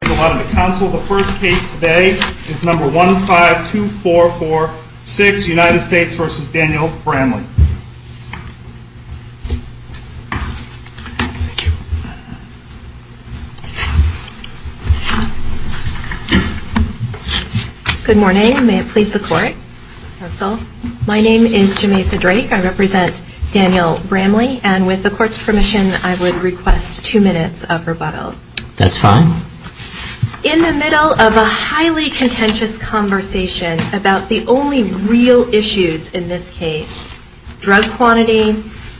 The first case today is number 152446 United States v. Daniel Bramley Good morning, may it please the court My name is Jamesa Drake, I represent Daniel Bramley and with the court's permission I would request two minutes of rebuttal That's fine In the middle of a highly contentious conversation about the only real issues in this case drug quantity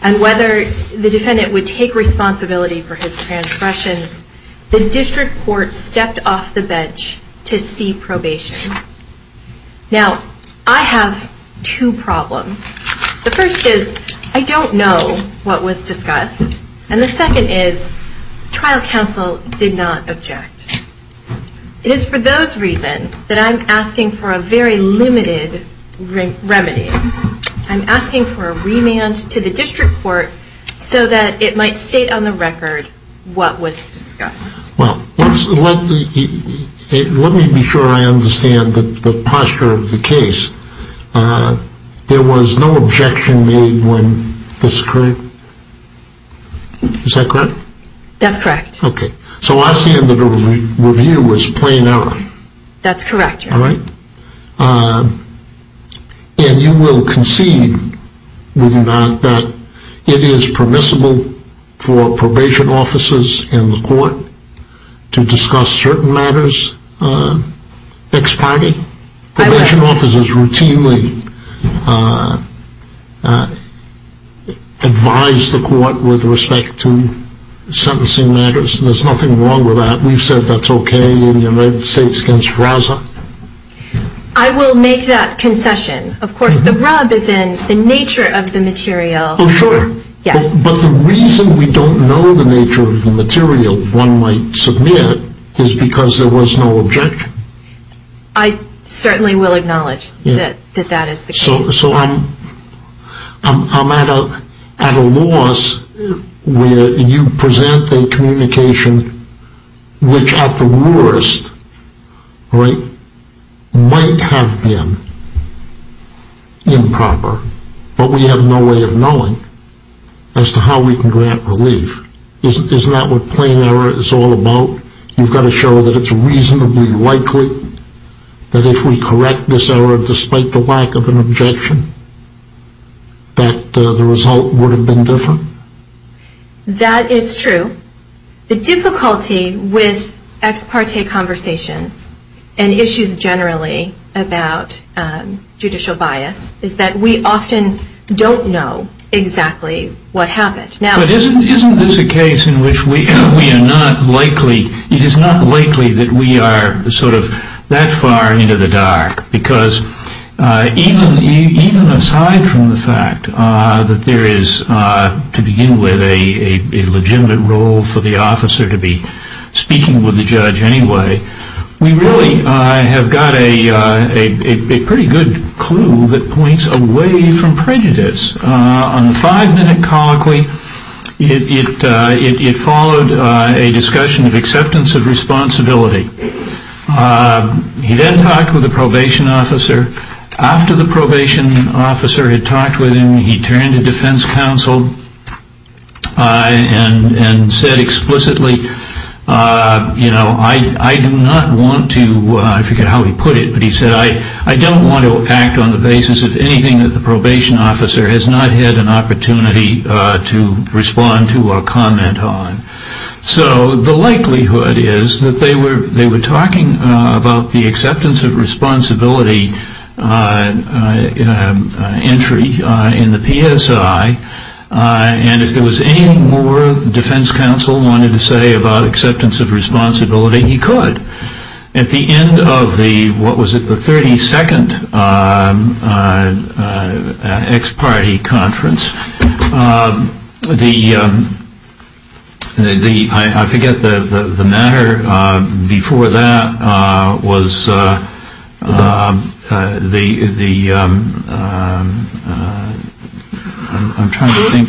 and whether the defendant would take responsibility for his transgressions the district court stepped off the bench to see probation Now, I have two problems The first is, I don't know what was discussed and the second is, trial counsel did not object It is for those reasons that I'm asking for a very limited remedy I'm asking for a remand to the district court so that it might state on the record what was discussed Well, let me be sure I understand the posture of the case There was no objection made when this occurred Is that correct? That's correct Okay, so I stand that the review was plain error That's correct Alright And you will concede, will you not, that it is permissible for probation officers in the court to discuss certain matters ex parte? Probation officers routinely advise the court with respect to sentencing matters There's nothing wrong with that We've said that's okay in the United States against FRASA I will make that concession Of course, the rub is in the nature of the material Oh sure Yes But the reason we don't know the nature of the material one might submit is because there was no objection I certainly will acknowledge that that is the case So I'm at a loss where you present a communication which at the worst might have been improper But we have no way of knowing as to how we can grant relief Isn't that what plain error is all about? You've got to show that it's reasonably likely that if we correct this error despite the lack of an objection That the result would have been different That is true The difficulty with ex parte conversations and issues generally about judicial bias is that we often don't know exactly what happened But isn't this a case in which it is not likely that we are that far into the dark Because even aside from the fact that there is to begin with a legitimate role for the officer to be speaking with the judge anyway We really have got a pretty good clue that points away from prejudice On the five minute colloquy it followed a discussion of acceptance of responsibility He then talked with the probation officer After the probation officer had talked with him he turned to defense counsel And said explicitly I do not want to, I forget how he put it But he said I don't want to act on the basis of anything that the probation officer has not had an opportunity to respond to or comment on So the likelihood is that they were talking about the acceptance of responsibility entry in the PSI And if there was anything more the defense counsel wanted to say about acceptance of responsibility he could At the end of the, what was it, the 32nd ex parte conference The, I forget the matter before that was the, I am trying to think,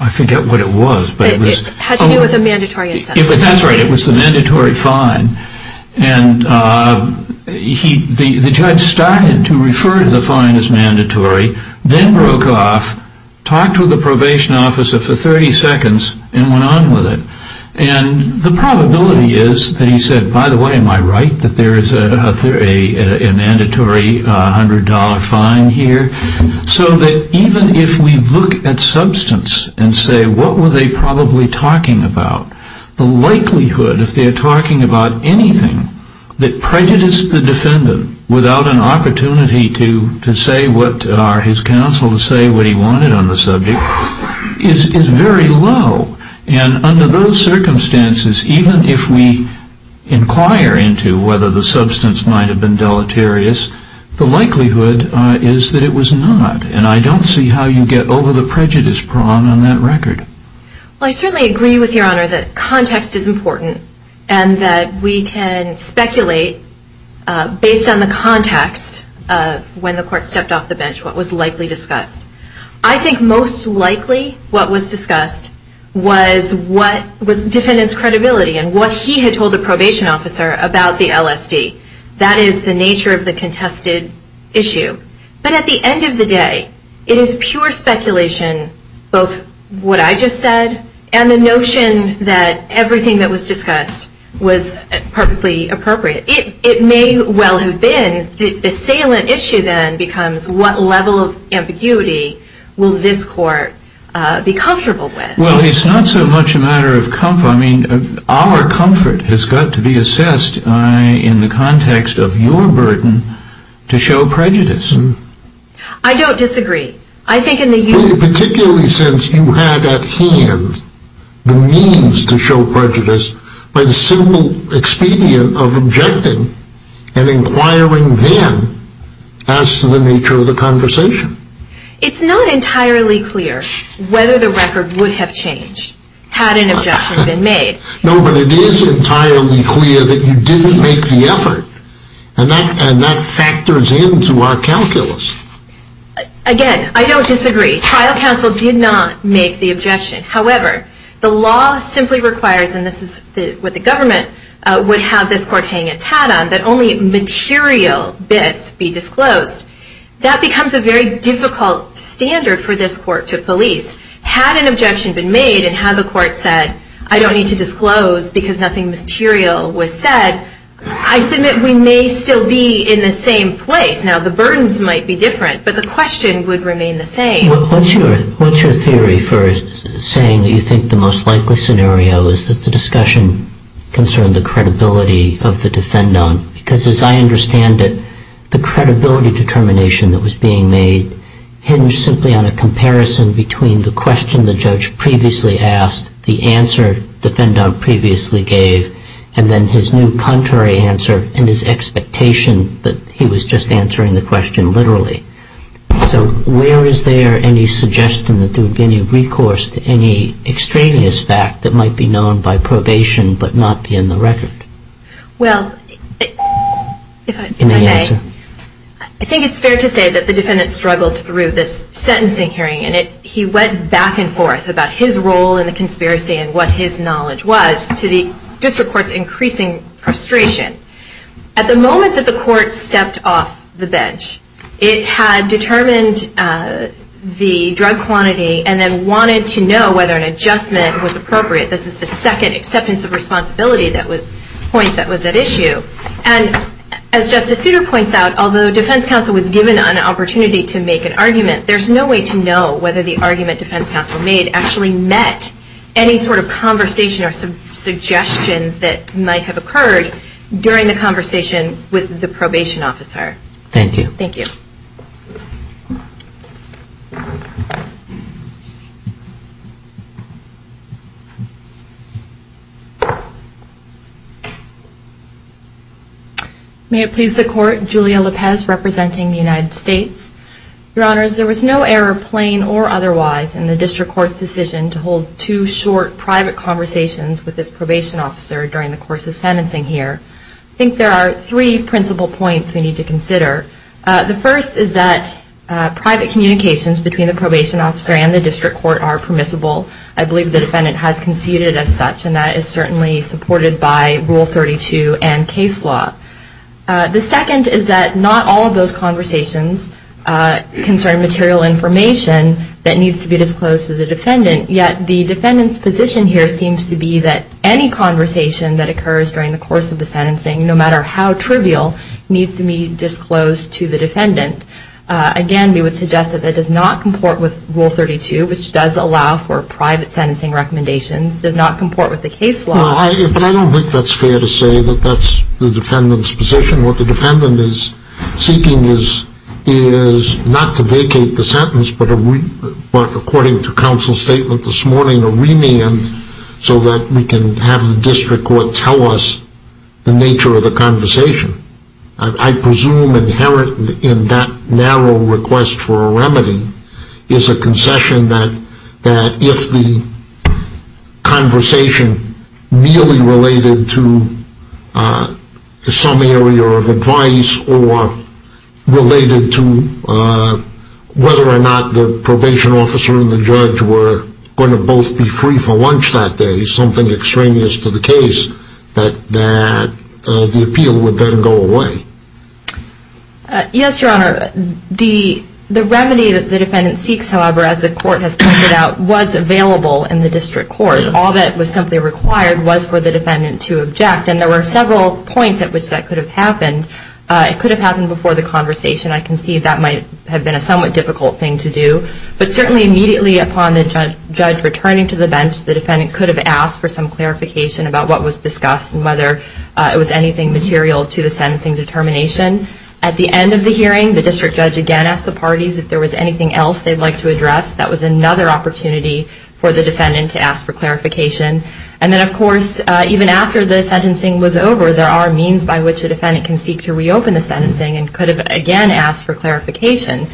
I forget what it was It had to do with a mandatory incentive That's right it was the mandatory fine And the judge started to refer to the fine as mandatory Then broke off, talked to the probation officer for 30 seconds and went on with it And the probability is that he said by the way am I right that there is a mandatory $100 fine here So that even if we look at substance and say what were they probably talking about The likelihood if they are talking about anything that prejudiced the defendant Without an opportunity to say what, his counsel to say what he wanted on the subject is very low And under those circumstances even if we inquire into whether the substance might have been deleterious The likelihood is that it was not and I don't see how you get over the prejudice prong on that record Well I certainly agree with your honor that context is important And that we can speculate based on the context of when the court stepped off the bench What was likely discussed I think most likely what was discussed was what was defendants credibility And what he had told the probation officer about the LSD That is the nature of the contested issue But at the end of the day it is pure speculation both what I just said And the notion that everything that was discussed was perfectly appropriate It may well have been the assailant issue then becomes what level of ambiguity will this court be comfortable with Well it's not so much a matter of comfort I mean our comfort has got to be assessed in the context of your burden to show prejudice I don't disagree Particularly since you had at hand the means to show prejudice By the simple expedient of objecting and inquiring then as to the nature of the conversation It's not entirely clear whether the record would have changed had an objection been made No but it is entirely clear that you didn't make the effort And that factors into our calculus Again I don't disagree Trial counsel did not make the objection However the law simply requires and this is what the government would have this court hang its hat on That only material bits be disclosed That becomes a very difficult standard for this court to police Had an objection been made and had the court said I don't need to disclose because nothing material was said I submit we may still be in the same place Now the burdens might be different but the question would remain the same What's your theory for saying that you think the most likely scenario is that the discussion concerned the credibility of the defendant Because as I understand it the credibility determination that was being made Hinged simply on a comparison between the question the judge previously asked The answer defendant previously gave and then his new contrary answer And his expectation that he was just answering the question literally So where is there any suggestion that there would be any recourse to any extraneous fact That might be known by probation but not be in the record Well I think it's fair to say that the defendant struggled through this sentencing hearing And he went back and forth about his role in the conspiracy and what his knowledge was To the district courts increasing frustration At the moment that the court stepped off the bench It had determined the drug quantity and then wanted to know whether an adjustment was appropriate This is the second acceptance of responsibility point that was at issue And as Justice Souter points out although defense counsel was given an opportunity to make an argument There's no way to know whether the argument defense counsel made actually met Any sort of conversation or suggestion that might have occurred During the conversation with the probation officer Thank you May it please the court, Julia Lopez representing the United States Your honors there was no error plain or otherwise in the district court's decision To hold two short private conversations with this probation officer during the course of sentencing here I think there are three principal points we need to consider The first is that private communications between the probation officer and the district court are permissible I believe the defendant has conceded as such and that is certainly supported by rule 32 and case law The second is that not all of those conversations concern material information That needs to be disclosed to the defendant Yet the defendant's position here seems to be that any conversation that occurs during the course of the sentencing No matter how trivial needs to be disclosed to the defendant Again we would suggest that it does not comport with rule 32 Which does allow for private sentencing recommendations does not comport with the case law But I don't think that's fair to say that that's the defendant's position What the defendant is seeking is not to vacate the sentence But according to counsel's statement this morning A remand so that we can have the district court tell us the nature of the conversation I presume inherent in that narrow request for a remedy Is a concession that if the conversation merely related to some area of advice Or related to whether or not the probation officer and the judge were going to both be free for lunch that day Something extraneous to the case that the appeal would then go away Yes your honor, the remedy that the defendant seeks however as the court has pointed out Was available in the district court All that was simply required was for the defendant to object And there were several points at which that could have happened It could have happened before the conversation I can see that might have been a somewhat difficult thing to do But certainly immediately upon the judge returning to the bench The defendant could have asked for some clarification about what was discussed And whether it was anything material to the sentencing determination At the end of the hearing the district judge again asked the parties If there was anything else they'd like to address That was another opportunity for the defendant to ask for clarification And then of course even after the sentencing was over There are means by which a defendant can seek to reopen the sentencing And could have again asked for clarification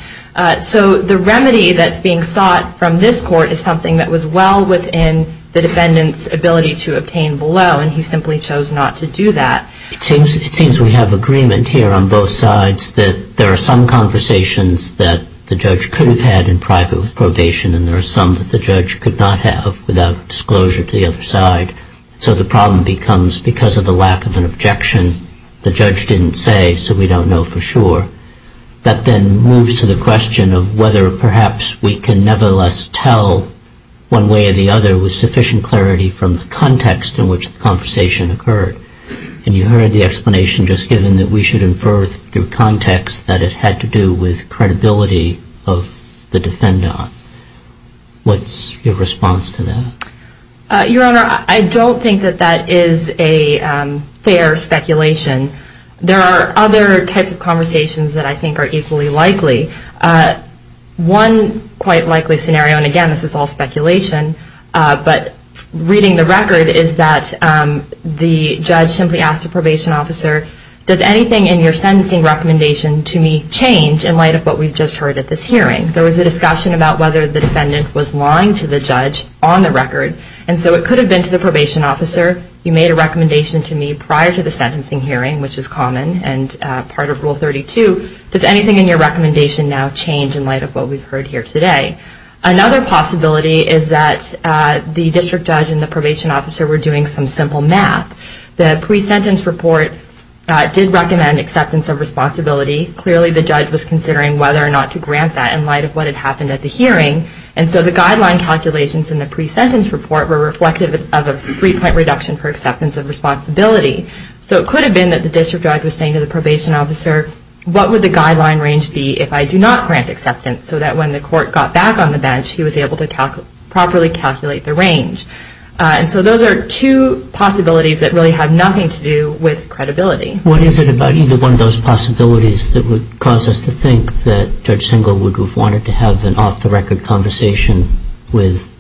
So the remedy that's being sought from this court Is something that was well within the defendant's ability to obtain below And he simply chose not to do that It seems we have agreement here on both sides And there are some that the judge could not have Without disclosure to the other side So the problem becomes because of the lack of an objection The judge didn't say so we don't know for sure That then moves to the question of whether perhaps We can nevertheless tell one way or the other With sufficient clarity from the context in which the conversation occurred And you heard the explanation just given that we should infer Through context that it had to do with credibility of the defendant What's your response to that? Your honor I don't think that that is a fair speculation There are other types of conversations that I think are equally likely One quite likely scenario and again this is all speculation But reading the record is that the judge simply asked the probation officer Does anything in your sentencing recommendation to me change In light of what we've just heard at this hearing There was a discussion about whether the defendant was lying to the judge On the record and so it could have been to the probation officer You made a recommendation to me prior to the sentencing hearing Which is common and part of rule 32 Does anything in your recommendation now change In light of what we've heard here today? Another possibility is that the district judge and the probation officer Were doing some simple math The pre-sentence report did recommend acceptance of responsibility Clearly the judge was considering whether or not to grant that In light of what had happened at the hearing And so the guideline calculations in the pre-sentence report Were reflective of a three point reduction for acceptance of responsibility So it could have been that the district judge was saying to the probation officer What would the guideline range be if I do not grant acceptance So that when the court got back on the bench He was able to properly calculate the range And so those are two possibilities that really have nothing to do with credibility What is it about either one of those possibilities That would cause us to think that Judge Singel Would have wanted to have an off the record conversation with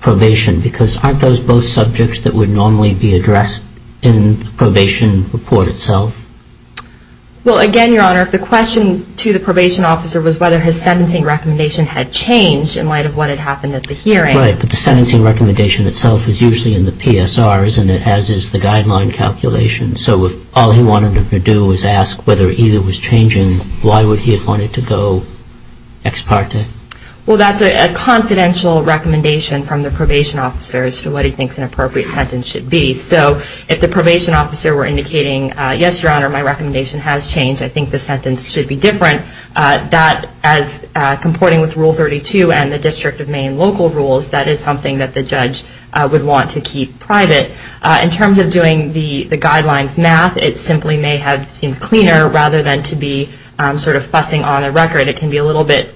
probation Because aren't those both subjects that would normally be addressed In the probation report itself? Well again your honor, the question to the probation officer Was whether his sentencing recommendation had changed In light of what had happened at the hearing Right, but the sentencing recommendation itself is usually in the PSR Isn't it, as is the guideline calculation So if all he wanted to do was ask whether either was changing Why would he have wanted to go ex parte? Well that's a confidential recommendation from the probation officer As to what he thinks an appropriate sentence should be So if the probation officer were indicating Yes your honor, my recommendation has changed I think the sentence should be different That as comporting with rule 32 and the district of Maine local rules That is something that the judge would want to keep private In terms of doing the guidelines math It simply may have seemed cleaner Rather than to be sort of fussing on the record It can be a little bit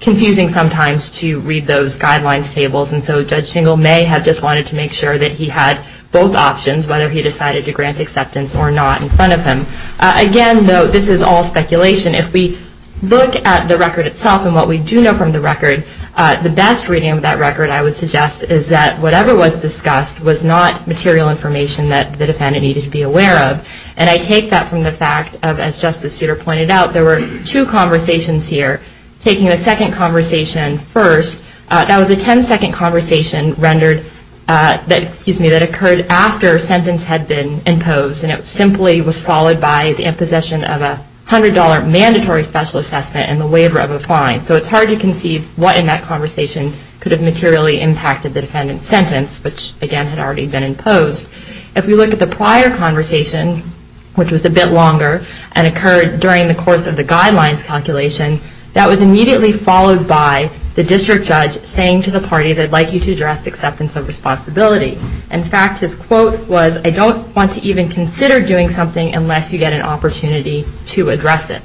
confusing sometimes To read those guidelines tables And so Judge Singel may have just wanted to make sure That he had both options Whether he decided to grant acceptance or not in front of him Again though, this is all speculation If we look at the record itself And what we do know from the record The best reading of that record I would suggest Is that whatever was discussed Was not material information that the defendant needed to be aware of And I take that from the fact As Justice Souter pointed out There were two conversations here Taking a second conversation first That was a ten second conversation That occurred after sentence had been imposed And it simply was followed by The imposition of a $100 mandatory special assessment And the waiver of a fine So it's hard to conceive what in that conversation Could have materially impacted the defendant's sentence Which again had already been imposed If we look at the prior conversation Which was a bit longer And occurred during the course of the guidelines calculation That was immediately followed by The district judge saying to the parties I'd like you to address acceptance of responsibility In fact his quote was I don't want to even consider doing something Unless you get an opportunity to address it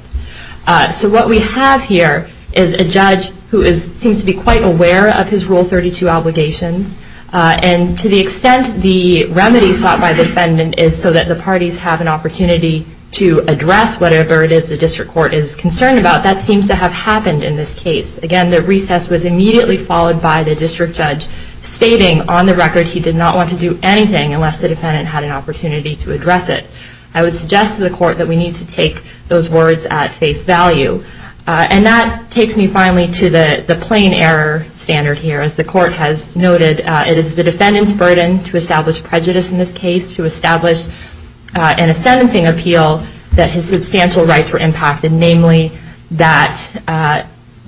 So what we have here Is a judge who seems to be quite aware Of his Rule 32 obligations And to the extent the remedy sought by the defendant Is so that the parties have an opportunity To address whatever it is the district court is concerned about That seems to have happened in this case Again the recess was immediately followed by The district judge stating on the record He did not want to do anything Unless the defendant had an opportunity to address it I would suggest to the court That we need to take those words at face value And that takes me finally to the plain error standard here As the court has noted It is the defendant's burden to establish prejudice in this case To establish in a sentencing appeal That his substantial rights were impacted Namely that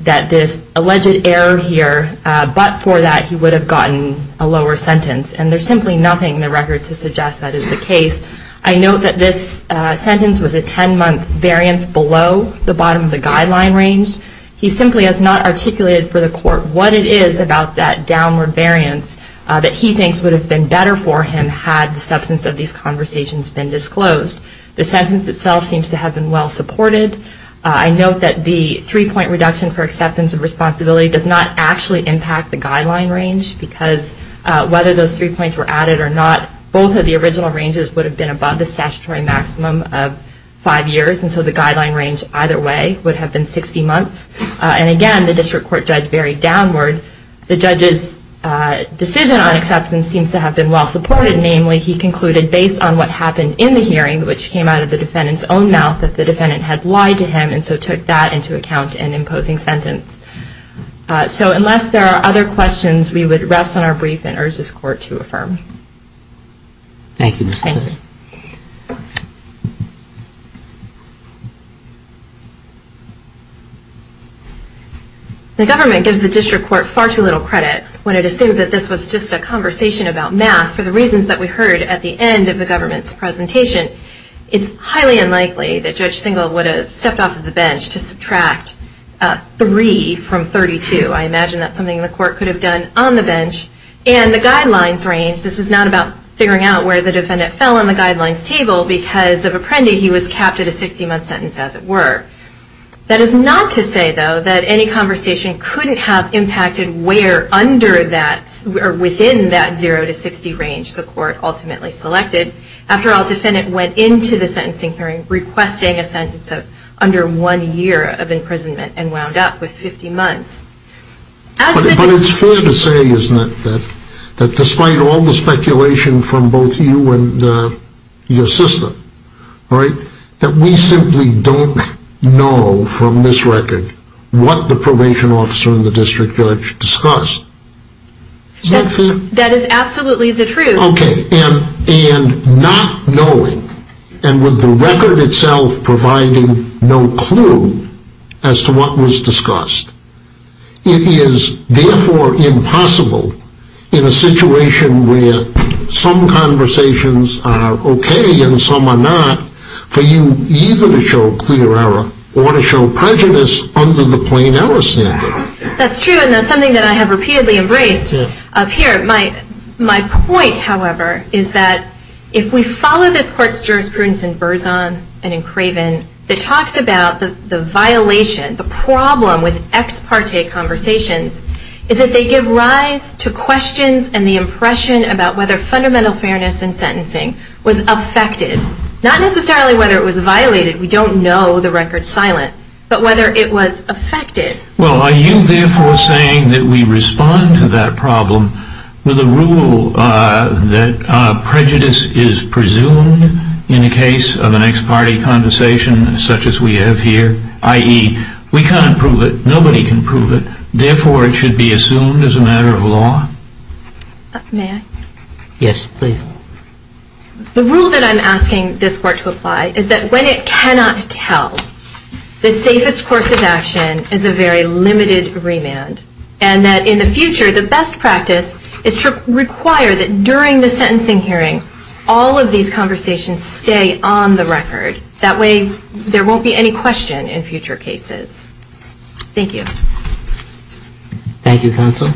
this alleged error here But for that he would have gotten a lower sentence And there's simply nothing in the record to suggest that is the case I note that this sentence was a 10 month variance Below the bottom of the guideline range He simply has not articulated for the court What it is about that downward variance That he thinks would have been better for him Had the substance of these conversations been disclosed The sentence itself seems to have been well supported I note that the three point reduction For acceptance of responsibility Does not actually impact the guideline range Because whether those three points were added or not Both of the original ranges would have been Above the statutory maximum of five years And so the guideline range either way Would have been 60 months And again the district court judge varied downward The judge's decision on acceptance Seems to have been well supported Namely he concluded based on what happened in the hearing Which came out of the defendant's own mouth That the defendant had lied to him And so took that into account in imposing sentence So unless there are other questions We would rest on our brief And urge this court to affirm Thank you Ms. Lewis The government gives the district court Far too little credit When it assumes that this was just a conversation about math For the reasons that we heard At the end of the government's presentation It's highly unlikely that Judge Singel Would have stepped off of the bench To subtract three from 32 I imagine that's something the court could have done On the bench And the guidelines range This is not about figuring out where the defendant Fell on the guidelines table Because of Apprendi He was capped at a 60 month sentence as it were That is not to say though That any conversation couldn't have impacted Where under that Or within that zero to 60 range The court ultimately selected After all the defendant went into the sentencing hearing Requesting a sentence of under one year of imprisonment And wound up with 50 months But it's fair to say Isn't it That despite all the speculation From both you and your sister That we simply Don't know From this record What the probation officer and the district judge Discussed That is absolutely the truth And not knowing And with the record itself Providing no clue As to what was discussed It is Therefore impossible In a situation where Some conversations are okay And some are not For you either to show clear error Or to show prejudice Under the plain error standard That's true and that's something that I have repeatedly embraced Up here My point however Is that if we follow this court's jurisprudence In Berzon and in Craven That talks about the violation The problem with Ex parte conversations Is that they give rise to questions And the impression about whether fundamental fairness In sentencing Was affected Not necessarily whether it was violated We don't know the record's silent But whether it was affected Well are you therefore saying That we respond to that problem With a rule that Prejudice is presumed In the case of an ex parte conversation Such as we have here I.e. we can't prove it Nobody can prove it Therefore it should be assumed as a matter of law May I Yes please The rule that I'm asking this court to apply Is that when it cannot tell The safest course of action Is a very limited remand And that in the future The best practice is to require That during the sentencing hearing All of these conversations Stay on the record That way there won't be any question In future cases Thank you Thank you counsel